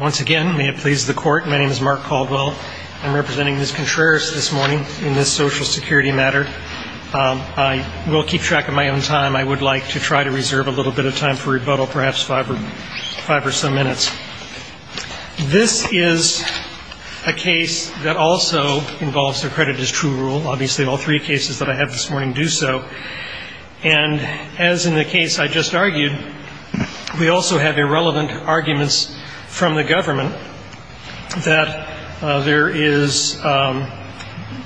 Once again, may it please the Court, my name is Mark Caldwell. I'm representing Ms. Contreras this morning in this Social Security matter. I will keep track of my own time. I would like to try to reserve a little bit of time for rebuttal, perhaps five or some minutes. This is a case that also involves accredited as true rule. Obviously all three cases that I have this morning do so. And as in the case I just argued, we also have irrelevant arguments from the government that there is,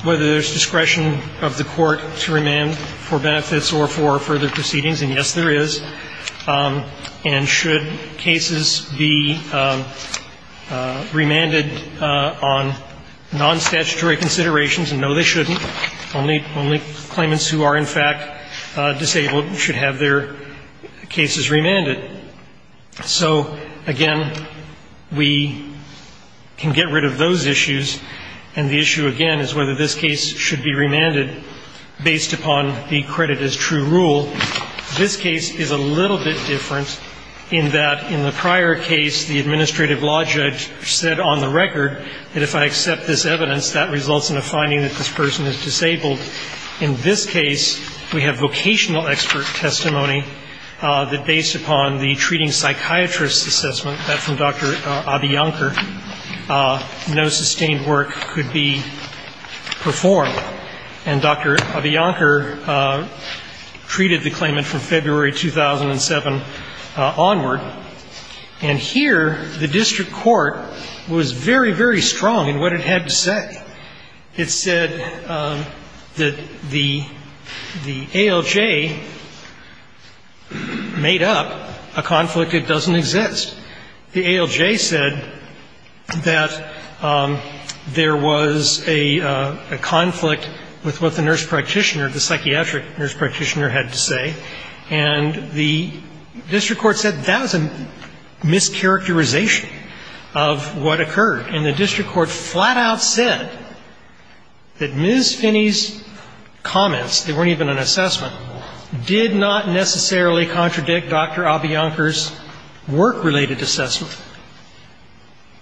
whether there's discretion of the court to remand for benefits or for further proceedings, and yes there is. And should cases be remanded on non-statutory considerations, and no they shouldn't. Only claimants who are in fact disabled should have their cases remanded. So again, we can get rid of those issues, and the issue again is whether this case should be remanded based upon the accredited as true rule. This case is a little bit different in that in the prior case, the administrative law judge said on the record that if I accept this evidence, that results in a finding that this person is disabled. In this case, we have vocational expert testimony that based upon the treating psychiatrist assessment from Dr. Abiyankar, no sustained work could be performed. And Dr. Abiyankar treated the claimant from February 2007 onward. And here the district court was very, very strong in what it had to say. It said that the ALJ made up a conflict that doesn't exist. The ALJ said that there was a conflict with what the nurse practitioner, the psychiatric nurse practitioner had to say. And the district court said that was a mischaracterization of what occurred. And the district court flat out said that Ms. Finney's comments, they weren't even an assessment, did not necessarily contradict Dr. Abiyankar's work-related assessment.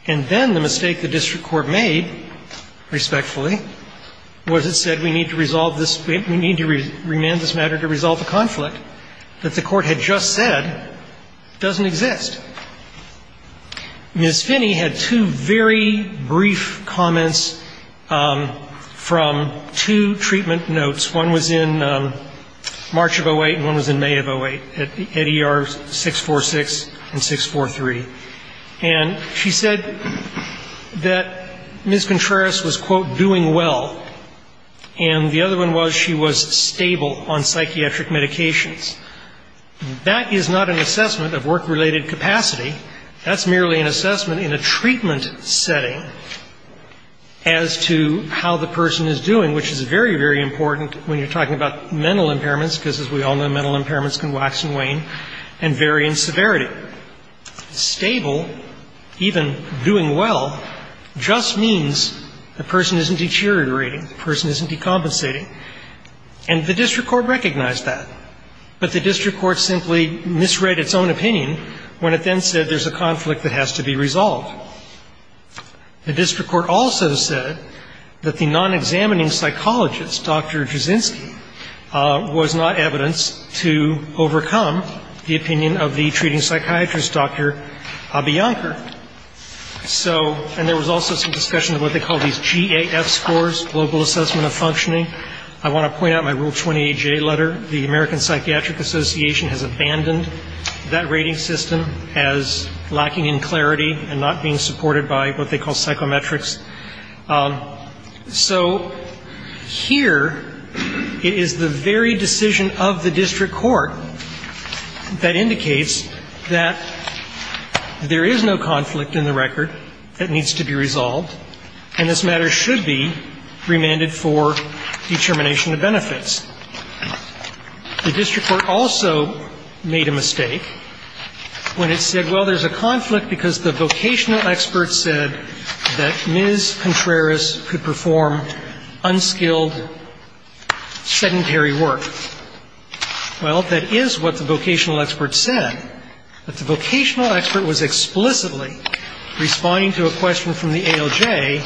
And then the mistake the district court made, respectfully, was it said we need to resolve this, we need to remand this matter to resolve the conflict that the court had just said doesn't exist. Ms. Finney had two very brief comments from two treatment notes. One was in March of 08 and one was in May of 08 at ER 646 and 643. And she said that Ms. Contreras was, quote, doing well. And the other one was she was stable on psychiatric medications. That is not an assessment of work-related capacity. That's merely an assessment in a treatment setting as to how the person is doing, which is very, very important when you're talking about mental impairments, because, as we all know, mental impairments can wax and wane and vary in severity. Stable, even doing well, just means the person isn't deteriorating, the person isn't decompensating. And the district court recognized that. But the district court simply misread its own opinion when it then said there's a conflict that has to be resolved. The district court also said that the non-examining psychologist, Dr. Drozinsky, was not evidence to overcome the opinion of the treating psychiatrist, Dr. Abiyankar. So, and there was also some discussion of what they call these GAF scores, Global Assessment of Functioning. I want to point out my Rule 28J letter. The American Psychiatric Association has abandoned that rating system as lacking in clarity and not being supported by what they call psychometrics. So here it is the very decision of the district court that indicates that there is no conflict in the record that needs to be resolved, and this matter should be remanded for determination of benefits. The district court also made a mistake when it said, well, there's a conflict because the vocational expert said that Ms. Contreras could perform unskilled, sedentary work. Well, that is what the vocational expert said. But the vocational expert was explicitly responding to a question from the ALJ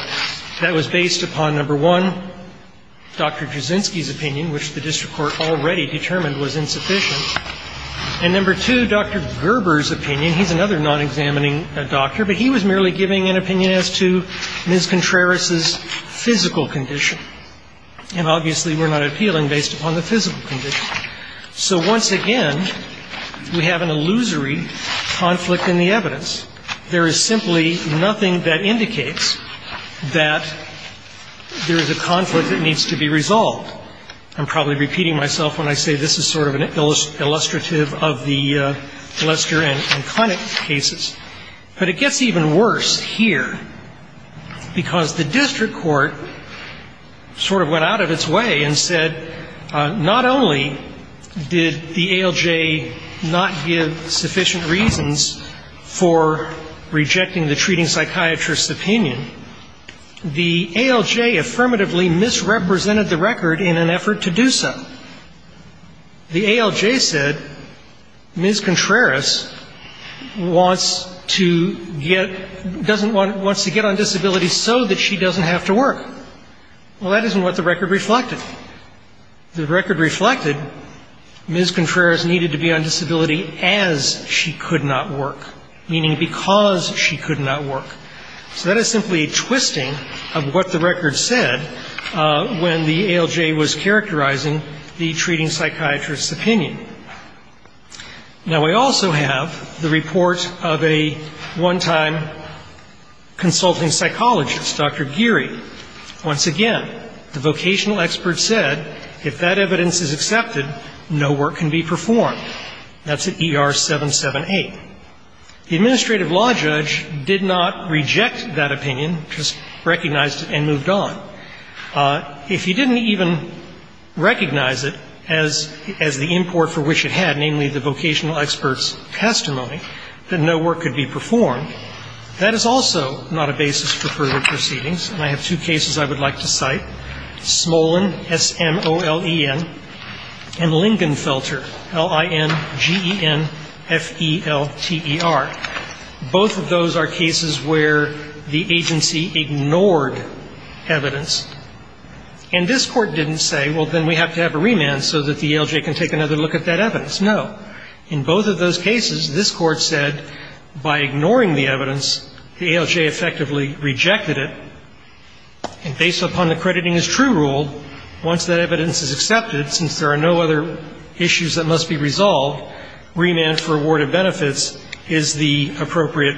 that was based upon, number one, Dr. Drozinsky's opinion, which the district court already determined was insufficient, and, number two, Dr. Gerber's opinion. He's another non-examining doctor, but he was merely giving an opinion as to Ms. Contreras's physical condition, and obviously we're not appealing based upon the physical condition. So once again, we have an illusory conflict in the evidence. There is simply nothing that indicates that there is a conflict that needs to be resolved. I'm probably repeating myself when I say this is sort of an illustrative of the Lester and Connick cases. But it gets even worse here, because the district court sort of went out of its way and said, not only did the ALJ not give sufficient reasons for rejecting the treating psychiatrist's opinion, the ALJ affirmatively misrepresented the record in an effort to do so. The ALJ said Ms. Contreras wants to get — doesn't want — wants to get on disability so that she doesn't have to work. Well, that isn't what the record reflected. The record reflected Ms. Contreras needed to be on disability as she could not work, meaning because she could not work. So that is simply a twisting of what the record said when the ALJ was characterizing the treating psychiatrist's opinion. Now, we also have the report of a one-time consulting psychologist, Dr. Geary. Once again, the vocational expert said if that evidence is accepted, no work can be performed. That's at ER 778. The administrative law judge did not reject that opinion, just recognized it and moved on. If he didn't even recognize it as the import for which it had, namely the vocational expert's testimony, that no work could be performed, that is also not a basis for further proceedings. And I have two cases I would like to cite, Smolen, S-M-O-L-E-N, and Lingenfelter, L-I-N-G-E-N-F-E-L-T-E-R. Both of those are cases where the agency ignored evidence. And this Court didn't say, well, then we have to have a remand so that the ALJ can take another look at that evidence. No. In both of those cases, this Court said by ignoring the evidence, the ALJ effectively rejected it. And based upon the crediting as true rule, once that evidence is accepted, since there are no other issues that must be resolved, remand for award of benefits is the appropriate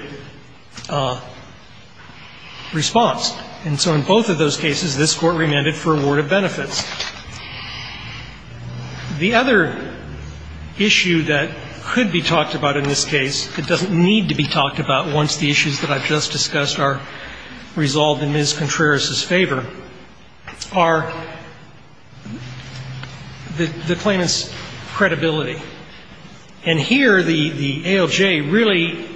response. And so in both of those cases, this Court remanded for award of benefits. The other issue that could be talked about in this case, that doesn't need to be talked about once the issues that I've just discussed are resolved in Ms. Contreras's favor, are the claimant's credibility. And here the ALJ really,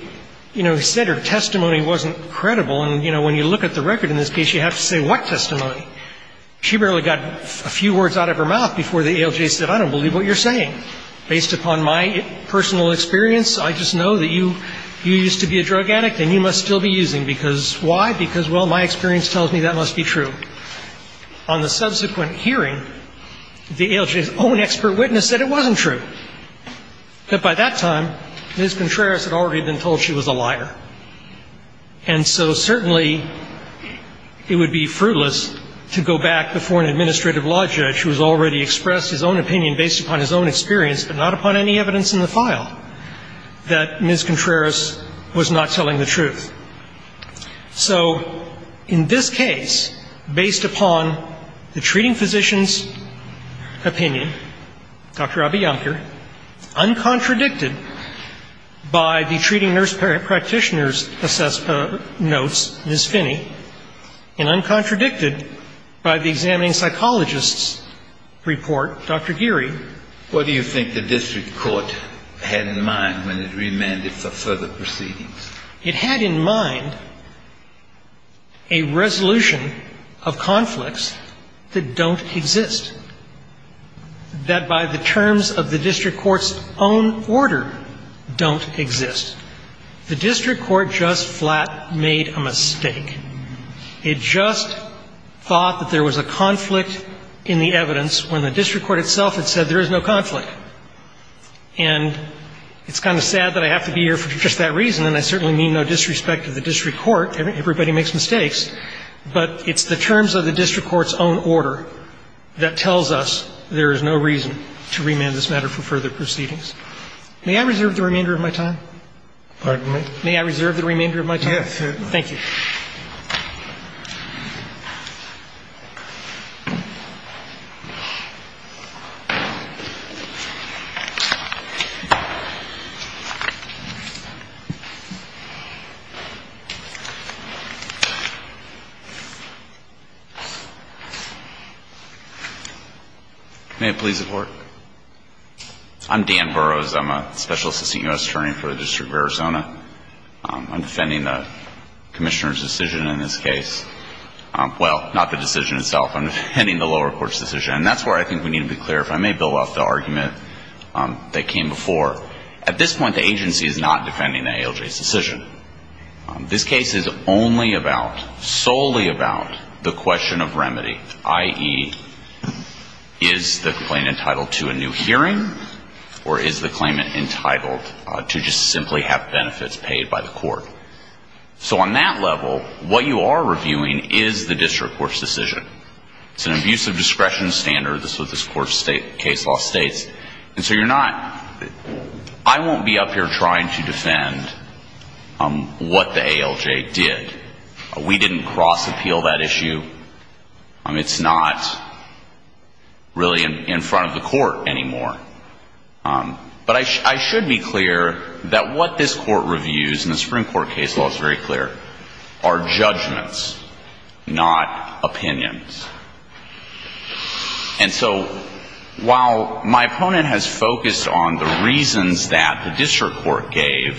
you know, said her testimony wasn't credible. And, you know, when you look at the record in this case, you have to say what testimony? She barely got a few words out of her mouth before the ALJ said, I don't believe what you're saying. Based upon my personal experience, I just know that you used to be a drug addict and you must still be using. Because why? Because, well, my experience tells me that must be true. On the subsequent hearing, the ALJ's own expert witness said it wasn't true. That by that time, Ms. Contreras had already been told she was a liar. And so certainly it would be fruitless to go back before an administrative law judge who has already expressed his own opinion based upon his own experience, but not upon any evidence in the file, that Ms. Contreras was not telling the truth. So in this case, based upon the treating physician's opinion, Dr. Abiyankar, uncontradicted by the treating nurse practitioner's notes, Ms. Finney, and uncontradicted by the examining psychologist's report, Dr. Geary. What do you think the district court had in mind when it remanded for further proceedings? It had in mind a resolution of conflicts that don't exist, that by the terms of the district court's own order don't exist. The district court just flat made a mistake. It just thought that there was a conflict in the evidence when the district court itself had said there is no conflict. And it's kind of sad that I have to be here for just that reason, and I certainly mean no disrespect to the district court. Everybody makes mistakes. But it's the terms of the district court's own order that tells us there is no reason to remand this matter for further proceedings. May I reserve the remainder of my time? Pardon me? May I reserve the remainder of my time? Yes. Thank you. May it please the Court. I'm Dan Burrows. I'm a special assistant U.S. attorney for the District of Arizona. I'm defending the Commissioner's decision in this case. Well, not the decision itself. I'm defending the lower court's decision, and that's where I think we need to be clear. If I may build off the argument that came before. At this point, the agency is not defending the ALJ's decision. This case is only about, solely about, the question of remedy, i.e., is the complaint entitled to a new hearing, or is the claimant entitled to just simply have benefits paid by the court? So on that level, what you are reviewing is the district court's decision. It's an abuse of discretion standard. This was the court's case law states. And so you're not, I won't be up here trying to defend what the ALJ did. We didn't cross-appeal that issue. It's not really in front of the court anymore. But I should be clear that what this court reviews, and the Supreme Court case law is very clear, are judgments, not opinions. And so while my opponent has focused on the reasons that the district court gave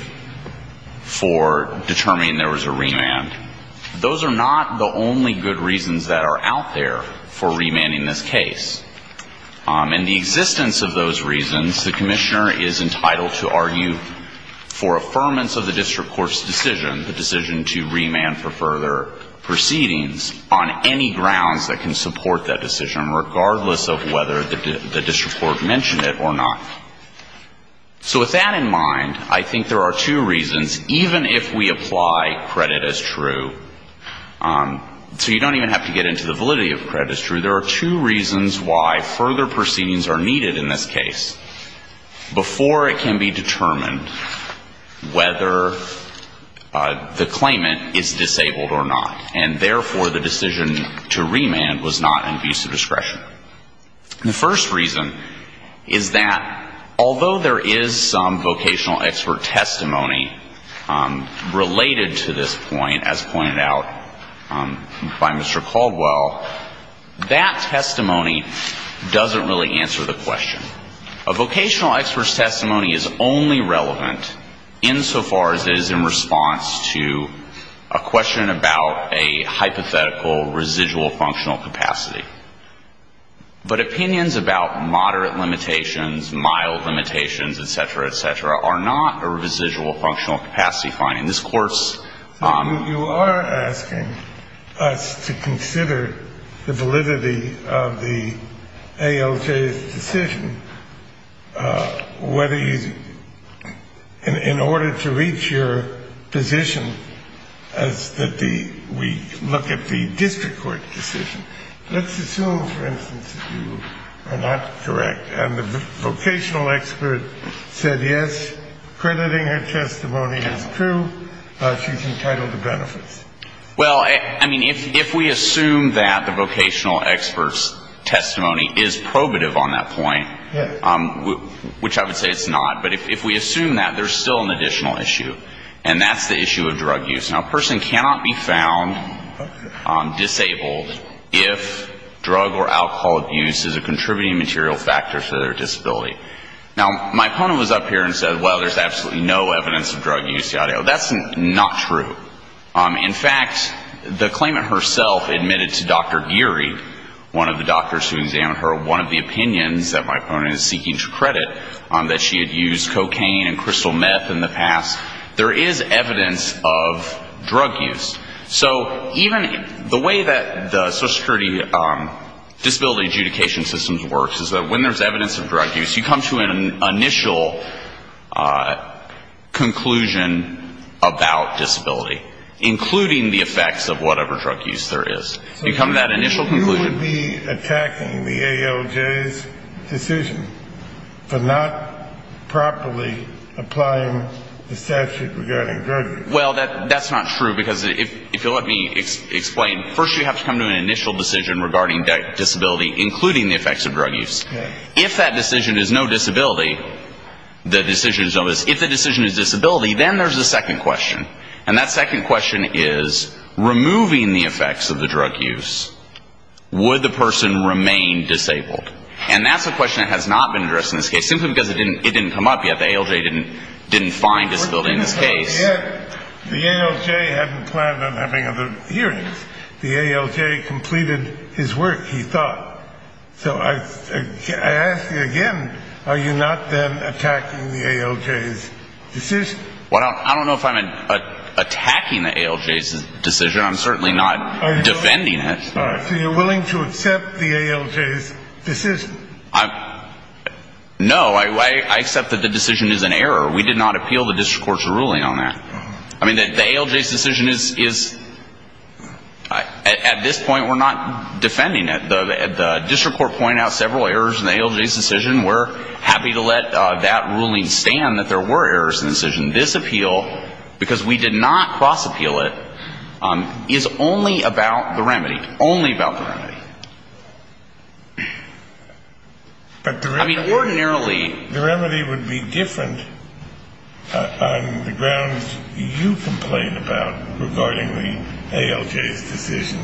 for determining there was a remand, those are not the only good reasons that are out there for remanding this case. In the existence of those reasons, the commissioner is entitled to argue for affirmance of the district court's decision, the decision to remand for further proceedings, on any grounds that can support that decision, regardless of whether the district court mentioned it or not. So with that in mind, I think there are two reasons, even if we apply credit as true. So you don't even have to get into the validity of credit as true. There are two reasons why further proceedings are needed in this case before it can be determined whether the claimant is disabled or not. And therefore, the decision to remand was not an abuse of discretion. The first reason is that although there is some vocational expert testimony related to this point, as pointed out by Mr. Caldwell, that testimony doesn't really answer the question. A vocational expert's testimony is only relevant insofar as it is in response to a question about a hypothetical residual functional capacity. But opinions about moderate limitations, mild limitations, et cetera, et cetera, are not a residual functional capacity finding. This Court's ‑‑ So you are asking us to consider the validity of the ALJ's decision, whether you ‑‑ In order to reach your position as we look at the district court decision, let's assume, for instance, that you are not correct and the vocational expert said yes, crediting her testimony as true, she's entitled to benefits. Well, I mean, if we assume that the vocational expert's testimony is probative on that point, which I would say it's not, but if we assume that, there's still an additional issue. And that's the issue of drug use. Now, a person cannot be found disabled if drug or alcohol abuse is a contributing material factor to their disability. Now, my opponent was up here and said, well, there's absolutely no evidence of drug use. That's not true. In fact, the claimant herself admitted to Dr. Geary, one of the doctors who examined her, one of the opinions that my opponent is seeking to credit, that she had used cocaine and crystal meth in the past. There is evidence of drug use. So even the way that the social security disability adjudication system works is that when there's evidence of drug use, you come to an initial conclusion about disability, including the effects of whatever drug use there is. You come to that initial conclusion. You should be attacking the ALJ's decision for not properly applying the statute regarding drug use. Well, that's not true, because if you'll let me explain, first you have to come to an initial decision regarding disability, including the effects of drug use. If that decision is no disability, the decision is no disability. If the decision is disability, then there's a second question. And that second question is, removing the effects of the drug use, would the person remain disabled? And that's a question that has not been addressed in this case, simply because it didn't come up, yet the ALJ didn't find disability in this case. The ALJ hadn't planned on having other hearings. The ALJ completed his work, he thought. So I ask you again, are you not then attacking the ALJ's decision? Well, I don't know if I'm attacking the ALJ's decision. I'm certainly not defending it. All right. So you're willing to accept the ALJ's decision? No, I accept that the decision is an error. We did not appeal the district court's ruling on that. I mean, the ALJ's decision is at this point we're not defending it. The district court pointed out several errors in the ALJ's decision. We're happy to let that ruling stand that there were errors in the decision. This appeal, because we did not cross-appeal it, is only about the remedy, only about the remedy. I mean, ordinarily the remedy would be different on the grounds you complain about regarding the ALJ's decision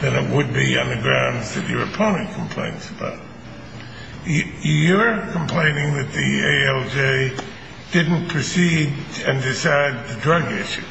than it would be on the grounds that your opponent complains about. You're complaining that the ALJ didn't proceed and decide the drug issue.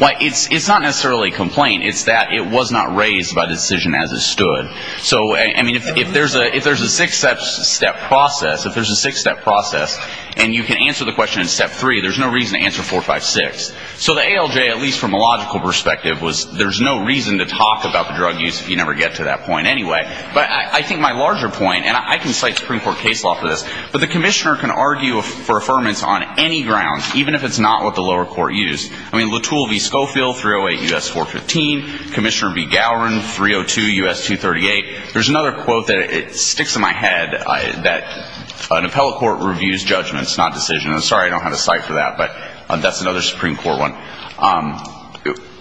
Well, it's not necessarily a complaint. It's that it was not raised by decision as it stood. So, I mean, if there's a six-step process, if there's a six-step process, and you can answer the question in step three, there's no reason to answer four, five, six. So the ALJ, at least from a logical perspective, was there's no reason to talk about the drug use if you never get to that point anyway. But I think my larger point, and I can cite Supreme Court case law for this, but the commissioner can argue for affirmance on any grounds, even if it's not what the lower court used. I mean, Latul v. Schofield, 308 U.S. 415. Commissioner v. Gowron, 302 U.S. 238. There's another quote that sticks in my head that an appellate court reviews judgments, not decisions. I'm sorry I don't have a cite for that, but that's another Supreme Court one.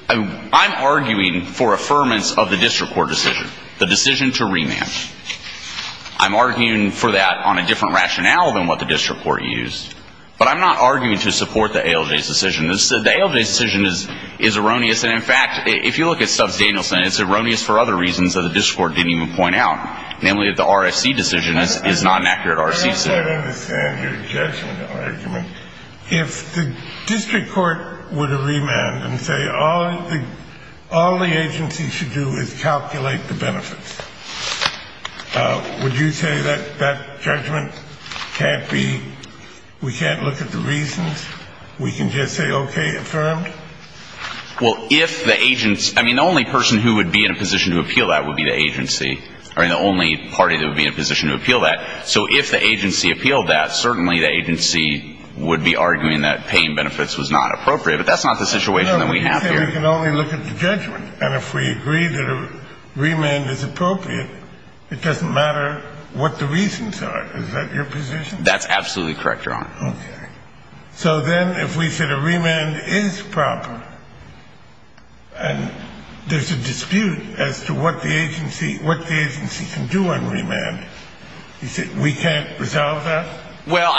I'm arguing for affirmance of the district court decision. The decision to remand. I'm arguing for that on a different rationale than what the district court used. But I'm not arguing to support the ALJ's decision. The ALJ's decision is erroneous, and, in fact, if you look at Stubbs-Danielson, it's erroneous for other reasons that the district court didn't even point out, namely that the RFC decision is not an accurate RFC decision. I don't understand your judgment argument. If the district court were to remand and say all the agency should do is calculate the benefits, would you say that that judgment can't be, we can't look at the reasons, we can just say, okay, affirmed? Well, if the agency – I mean, the only person who would be in a position to appeal that would be the agency. I mean, the only party that would be in a position to appeal that. So if the agency appealed that, certainly the agency would be arguing that paying benefits was not appropriate, but that's not the situation that we have here. No, we can only look at the judgment, and if we agree that a remand is appropriate, it doesn't matter what the reasons are. Is that your position? That's absolutely correct, Your Honor. Okay. So then if we said a remand is proper, and there's a dispute as to what the agency can do on remand, we can't resolve that? Well,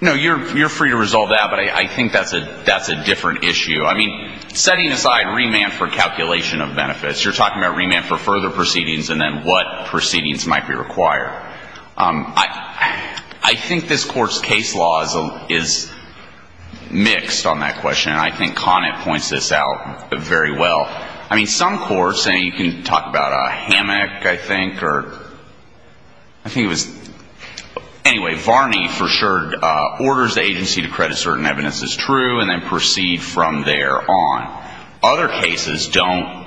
no, you're free to resolve that, but I think that's a different issue. I mean, setting aside remand for calculation of benefits, you're talking about remand for further proceedings and then what proceedings might be required. I think this Court's case law is mixed on that question, and I think Conant points this out very well. I mean, some courts, and you can talk about Hammock, I think, or I think it was, anyway, Varney for sure, orders the agency to credit certain evidence as true and then proceed from there on. Other cases don't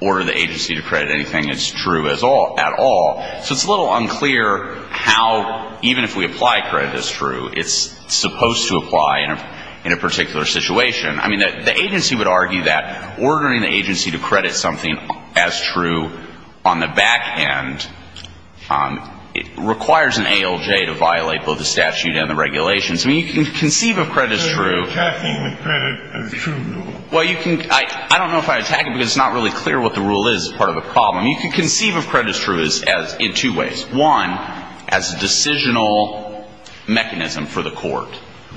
order the agency to credit anything that's true at all. So it's a little unclear how, even if we apply credit as true, it's supposed to apply in a particular situation. I mean, the agency would argue that ordering the agency to credit something as true on the back end, it requires an ALJ to violate both the statute and the regulations. I mean, you can conceive of credit as true. So you're attacking the credit as true? Well, you can – I don't know if I attack it because it's not really clear what the rule is as part of the problem. You can conceive of credit as true in two ways. One, as a decisional mechanism for the Court.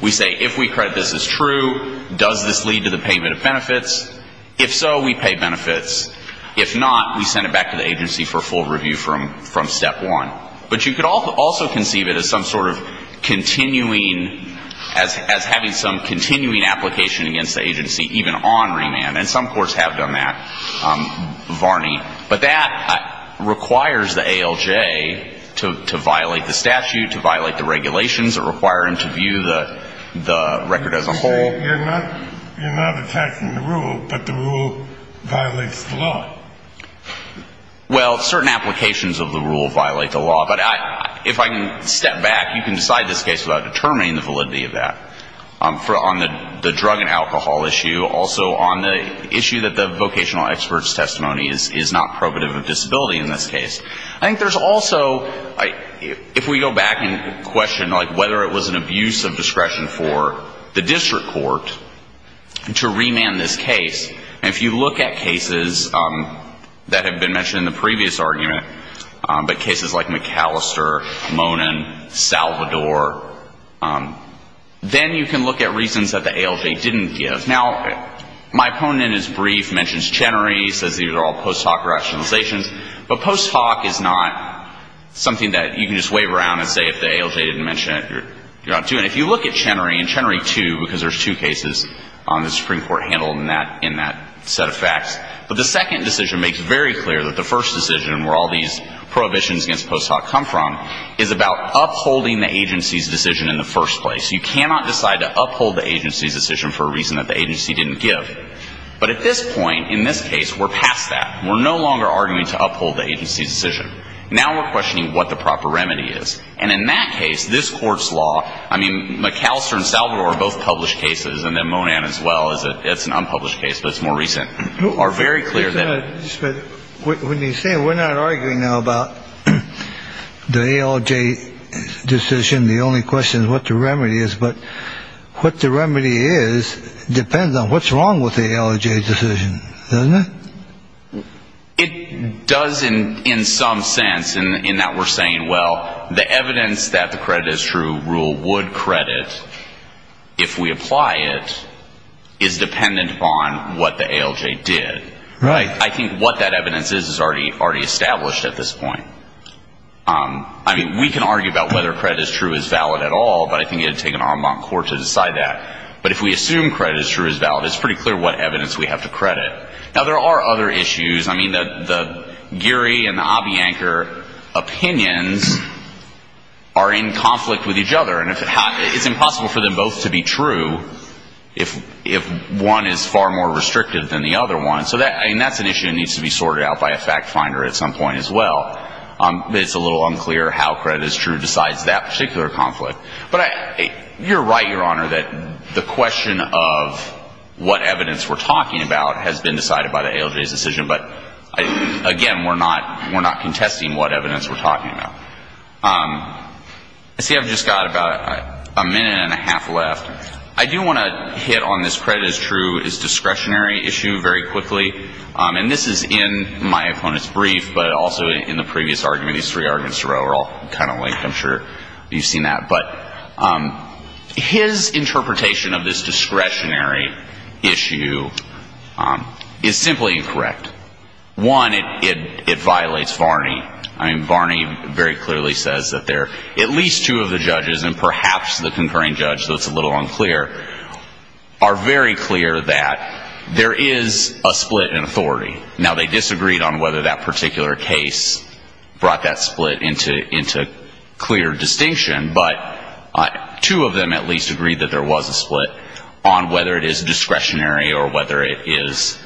We say if we credit this as true, does this lead to the payment of benefits? If so, we pay benefits. If not, we send it back to the agency for full review from step one. But you could also conceive it as some sort of continuing – as having some continuing application against the agency, even on remand, and some courts have done that, Varney. But that requires the ALJ to violate the statute, to violate the regulations that require him to view the record as a whole. You're saying you're not attacking the rule, but the rule violates the law. Well, certain applications of the rule violate the law. But if I can step back, you can decide this case without determining the validity of that. On the drug and alcohol issue, also on the issue that the vocational expert's testimony is not probative of disability in this case. I think there's also – if we go back and question, like, whether it was an abuse of discretion for the district court to remand this case, and if you look at cases that have been mentioned in the previous argument, but cases like McAllister, Monin, Salvador, then you can look at reasons that the ALJ didn't give. Now, my opponent is brief, mentions Chenery, says these are all post hoc rationalizations. But post hoc is not something that you can just wave around and say if the ALJ didn't mention it, you're not doing it. And if you look at Chenery, and Chenery 2, because there's two cases on the Supreme Court handled in that set of facts, but the second decision makes very clear that the first decision, where all these prohibitions against post hoc come from, is about upholding the agency's decision in the first place. You cannot decide to uphold the agency's decision for a reason that the agency didn't give. But at this point, in this case, we're past that. We're no longer arguing to uphold the agency's decision. Now we're questioning what the proper remedy is. And in that case, this court's law, I mean, McAllister and Salvador are both published cases, and then Monin as well. It's an unpublished case, but it's more recent, are very clear that. When you say we're not arguing now about the ALJ decision, the only question is what the remedy is. But what the remedy is depends on what's wrong with the ALJ decision, doesn't it? It does, in some sense, in that we're saying, well, the evidence that the credit is true rule would credit, if we apply it, is dependent upon what the ALJ did. Right. I think what that evidence is is already established at this point. I mean, we can argue about whether credit is true is valid at all, but I think it would take an en banc court to decide that. But if we assume credit is true is valid, it's pretty clear what evidence we have to credit. Now, there are other issues. I mean, the Geary and the Abiancar opinions are in conflict with each other, and it's impossible for them both to be true if one is far more restrictive than the other one. So that's an issue that needs to be sorted out by a fact finder at some point as well. It's a little unclear how credit is true decides that particular conflict. You're right, Your Honor, that the question of what evidence we're talking about has been decided by the ALJ's decision. But, again, we're not contesting what evidence we're talking about. I see I've just got about a minute and a half left. I do want to hit on this credit is true is discretionary issue very quickly. And this is in my opponent's brief, but also in the previous argument. I'm sure you've seen that. But his interpretation of this discretionary issue is simply incorrect. One, it violates Varney. I mean, Varney very clearly says that there are at least two of the judges, and perhaps the concurring judge, though it's a little unclear, are very clear that there is a split in authority. Now, they disagreed on whether that particular case brought that split into clear distinction, but two of them at least agreed that there was a split on whether it is discretionary or whether it is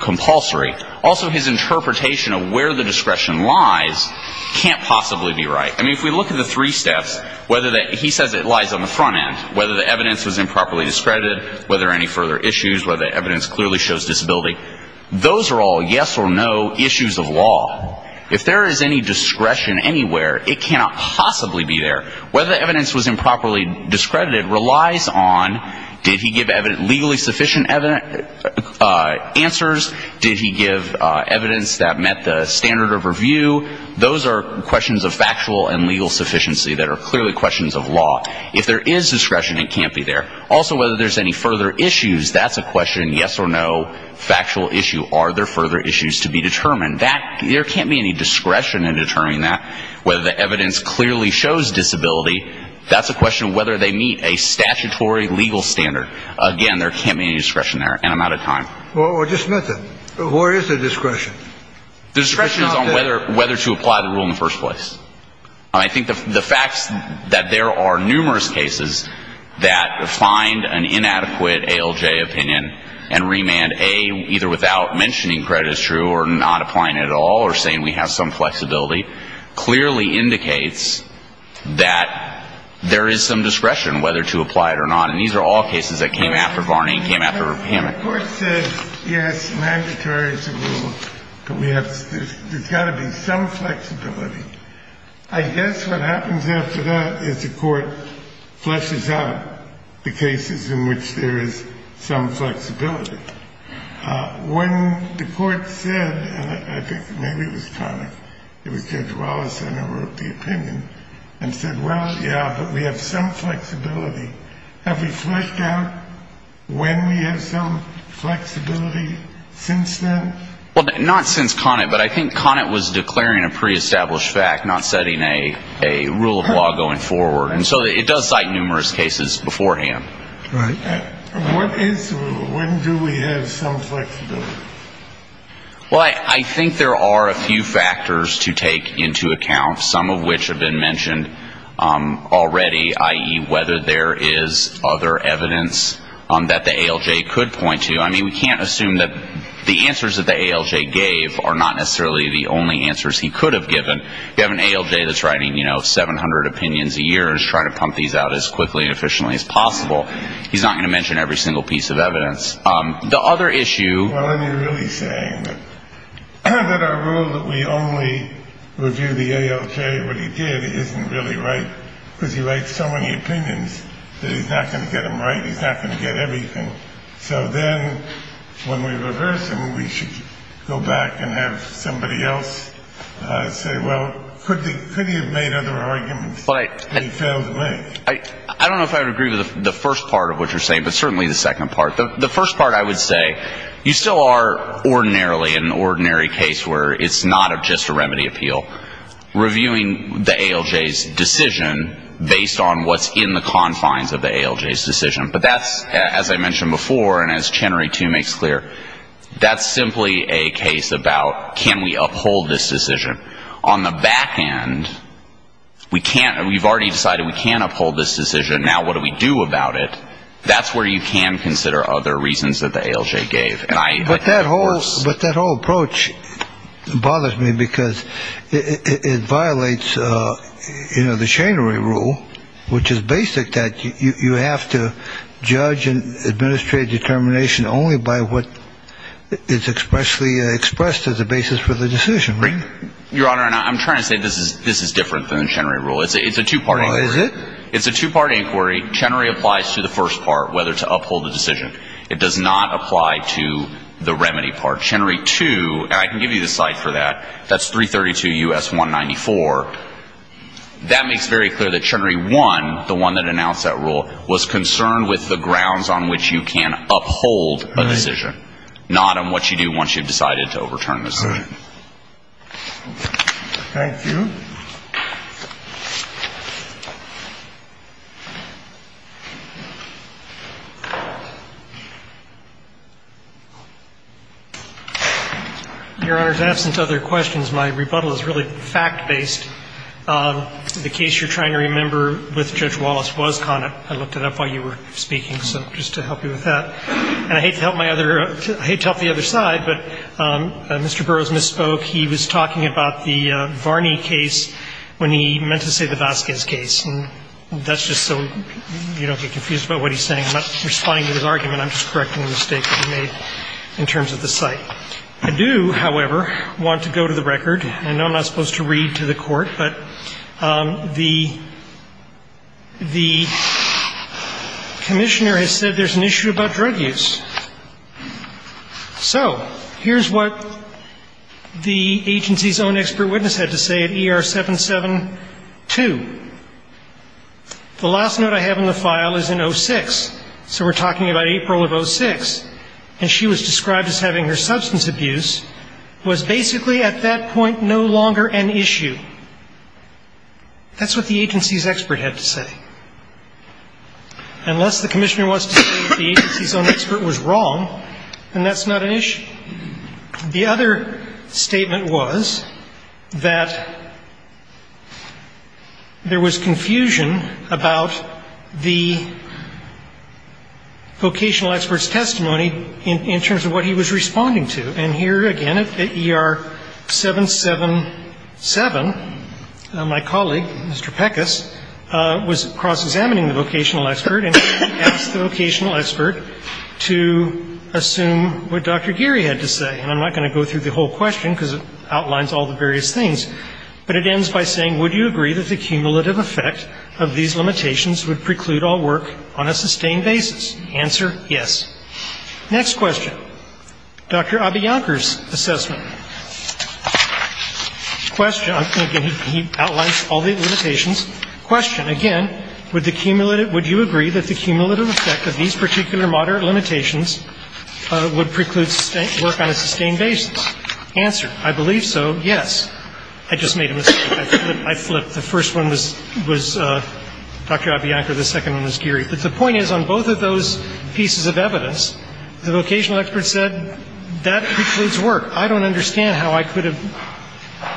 compulsory. Also, his interpretation of where the discretion lies can't possibly be right. I mean, if we look at the three steps, whether that he says it lies on the front end, whether the evidence was improperly discredited, whether any further issues, whether the evidence clearly shows disability, those are all yes or no issues of law. If there is any discretion anywhere, it cannot possibly be there. Whether the evidence was improperly discredited relies on did he give legally sufficient answers? Did he give evidence that met the standard of review? Those are questions of factual and legal sufficiency that are clearly questions of law. If there is discretion, it can't be there. Also, whether there's any further issues, that's a question, yes or no, factual issue. Are there further issues to be determined? There can't be any discretion in determining that. Whether the evidence clearly shows disability, that's a question of whether they meet a statutory legal standard. Again, there can't be any discretion there, and I'm out of time. Well, just a minute, sir. Where is the discretion? The discretion is on whether to apply the rule in the first place. I think the facts that there are numerous cases that find an inadequate ALJ opinion and remand A, either without mentioning credit is true or not applying it at all or saying we have some flexibility, clearly indicates that there is some discretion whether to apply it or not. And these are all cases that came after Varney and came after him. The court said, yes, mandatory is a rule, but there's got to be some flexibility. I guess what happens after that is the court fleshes out the cases in which there is some flexibility. When the court said, and I think maybe it was Connick, it was Judge Wallace, I don't know, wrote the opinion and said, Well, yeah, but we have some flexibility. Have we fleshed out when we have some flexibility since then? Well, not since Connick, but I think Connick was declaring a pre-established fact, not setting a rule of law going forward. And so it does cite numerous cases beforehand. Right. What is the rule? When do we have some flexibility? Well, I think there are a few factors to take into account, some of which have been mentioned already, i.e., whether there is other evidence that the ALJ could point to. I mean, we can't assume that the answers that the ALJ gave are not necessarily the only answers he could have given. You have an ALJ that's writing 700 opinions a year and is trying to pump these out as quickly and efficiently as possible. He's not going to mention every single piece of evidence. The other issue — Well, and you're really saying that our rule that we only review the ALJ, what he did, isn't really right, because he writes so many opinions that he's not going to get them right, he's not going to get everything. So then when we reverse him, we should go back and have somebody else say, Well, could he have made other arguments that he failed to make? I don't know if I would agree with the first part of what you're saying, but certainly the second part. The first part, I would say, you still are ordinarily in an ordinary case where it's not just a remedy appeal, reviewing the ALJ's decision based on what's in the confines of the ALJ's decision. But that's, as I mentioned before, and as Chenery, too, makes clear, that's simply a case about can we uphold this decision. On the back end, we've already decided we can uphold this decision. Now what do we do about it? That's where you can consider other reasons that the ALJ gave. But that whole approach bothers me because it violates the Chenery rule, which is basic that you have to judge and administrate determination only by what is expressly expressed as a basis for the decision. Your Honor, I'm trying to say this is different than the Chenery rule. Is it? The first part, whether to uphold the decision, it does not apply to the remedy part. Chenery 2, and I can give you the slide for that, that's 332 U.S. 194. That makes very clear that Chenery 1, the one that announced that rule, was concerned with the grounds on which you can uphold a decision, not on what you do once you've decided to overturn the decision. Thank you. Your Honor, in absence of other questions, my rebuttal is really fact-based. The case you're trying to remember with Judge Wallace was con it. I looked it up while you were speaking, so just to help you with that. And I hate to help my other – I hate to help the other side, but Mr. Burroughs misspoke. He was talking about the Varney case when he meant to say the Vasquez case. And that's just so you don't get confused about what he's saying. I'm not responding to his argument. I'm just correcting the mistake that he made in terms of the site. I do, however, want to go to the record. I know I'm not supposed to read to the Court, but the commissioner has said there's an issue about drug use. So here's what the agency's own expert witness had to say at ER 772. The last note I have on the file is in 06. So we're talking about April of 06. And she was described as having her substance abuse was basically at that point no longer an issue. That's what the agency's expert had to say. Unless the commissioner wants to say the agency's own expert was wrong, then that's not an issue. The other statement was that there was confusion about the vocational expert's testimony in terms of what he was responding to. And here again at ER 777, my colleague, Mr. Peckis, was cross-examining the vocational expert and asked the vocational expert to assume what Dr. Geary had to say. And I'm not going to go through the whole question because it outlines all the various things. But it ends by saying, Would you agree that the cumulative effect of these limitations would preclude all work on a sustained basis? The answer, yes. Next question. Dr. Abiyankar's assessment. Question. Again, he outlines all the limitations. Question. Again, would you agree that the cumulative effect of these particular moderate limitations would preclude work on a sustained basis? Answer. I believe so, yes. I just made a mistake. I flipped. The first one was Dr. Abiyankar. The second one was Geary. But the point is, on both of those pieces of evidence, the vocational expert said, That precludes work. I don't understand how I could have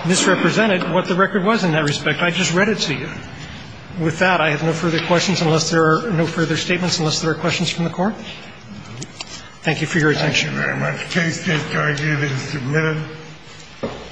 misrepresented what the record was in that respect. I just read it to you. With that, I have no further questions unless there are no further statements, unless there are questions from the Court. Thank you for your attention. Thank you very much. The case is currently being submitted.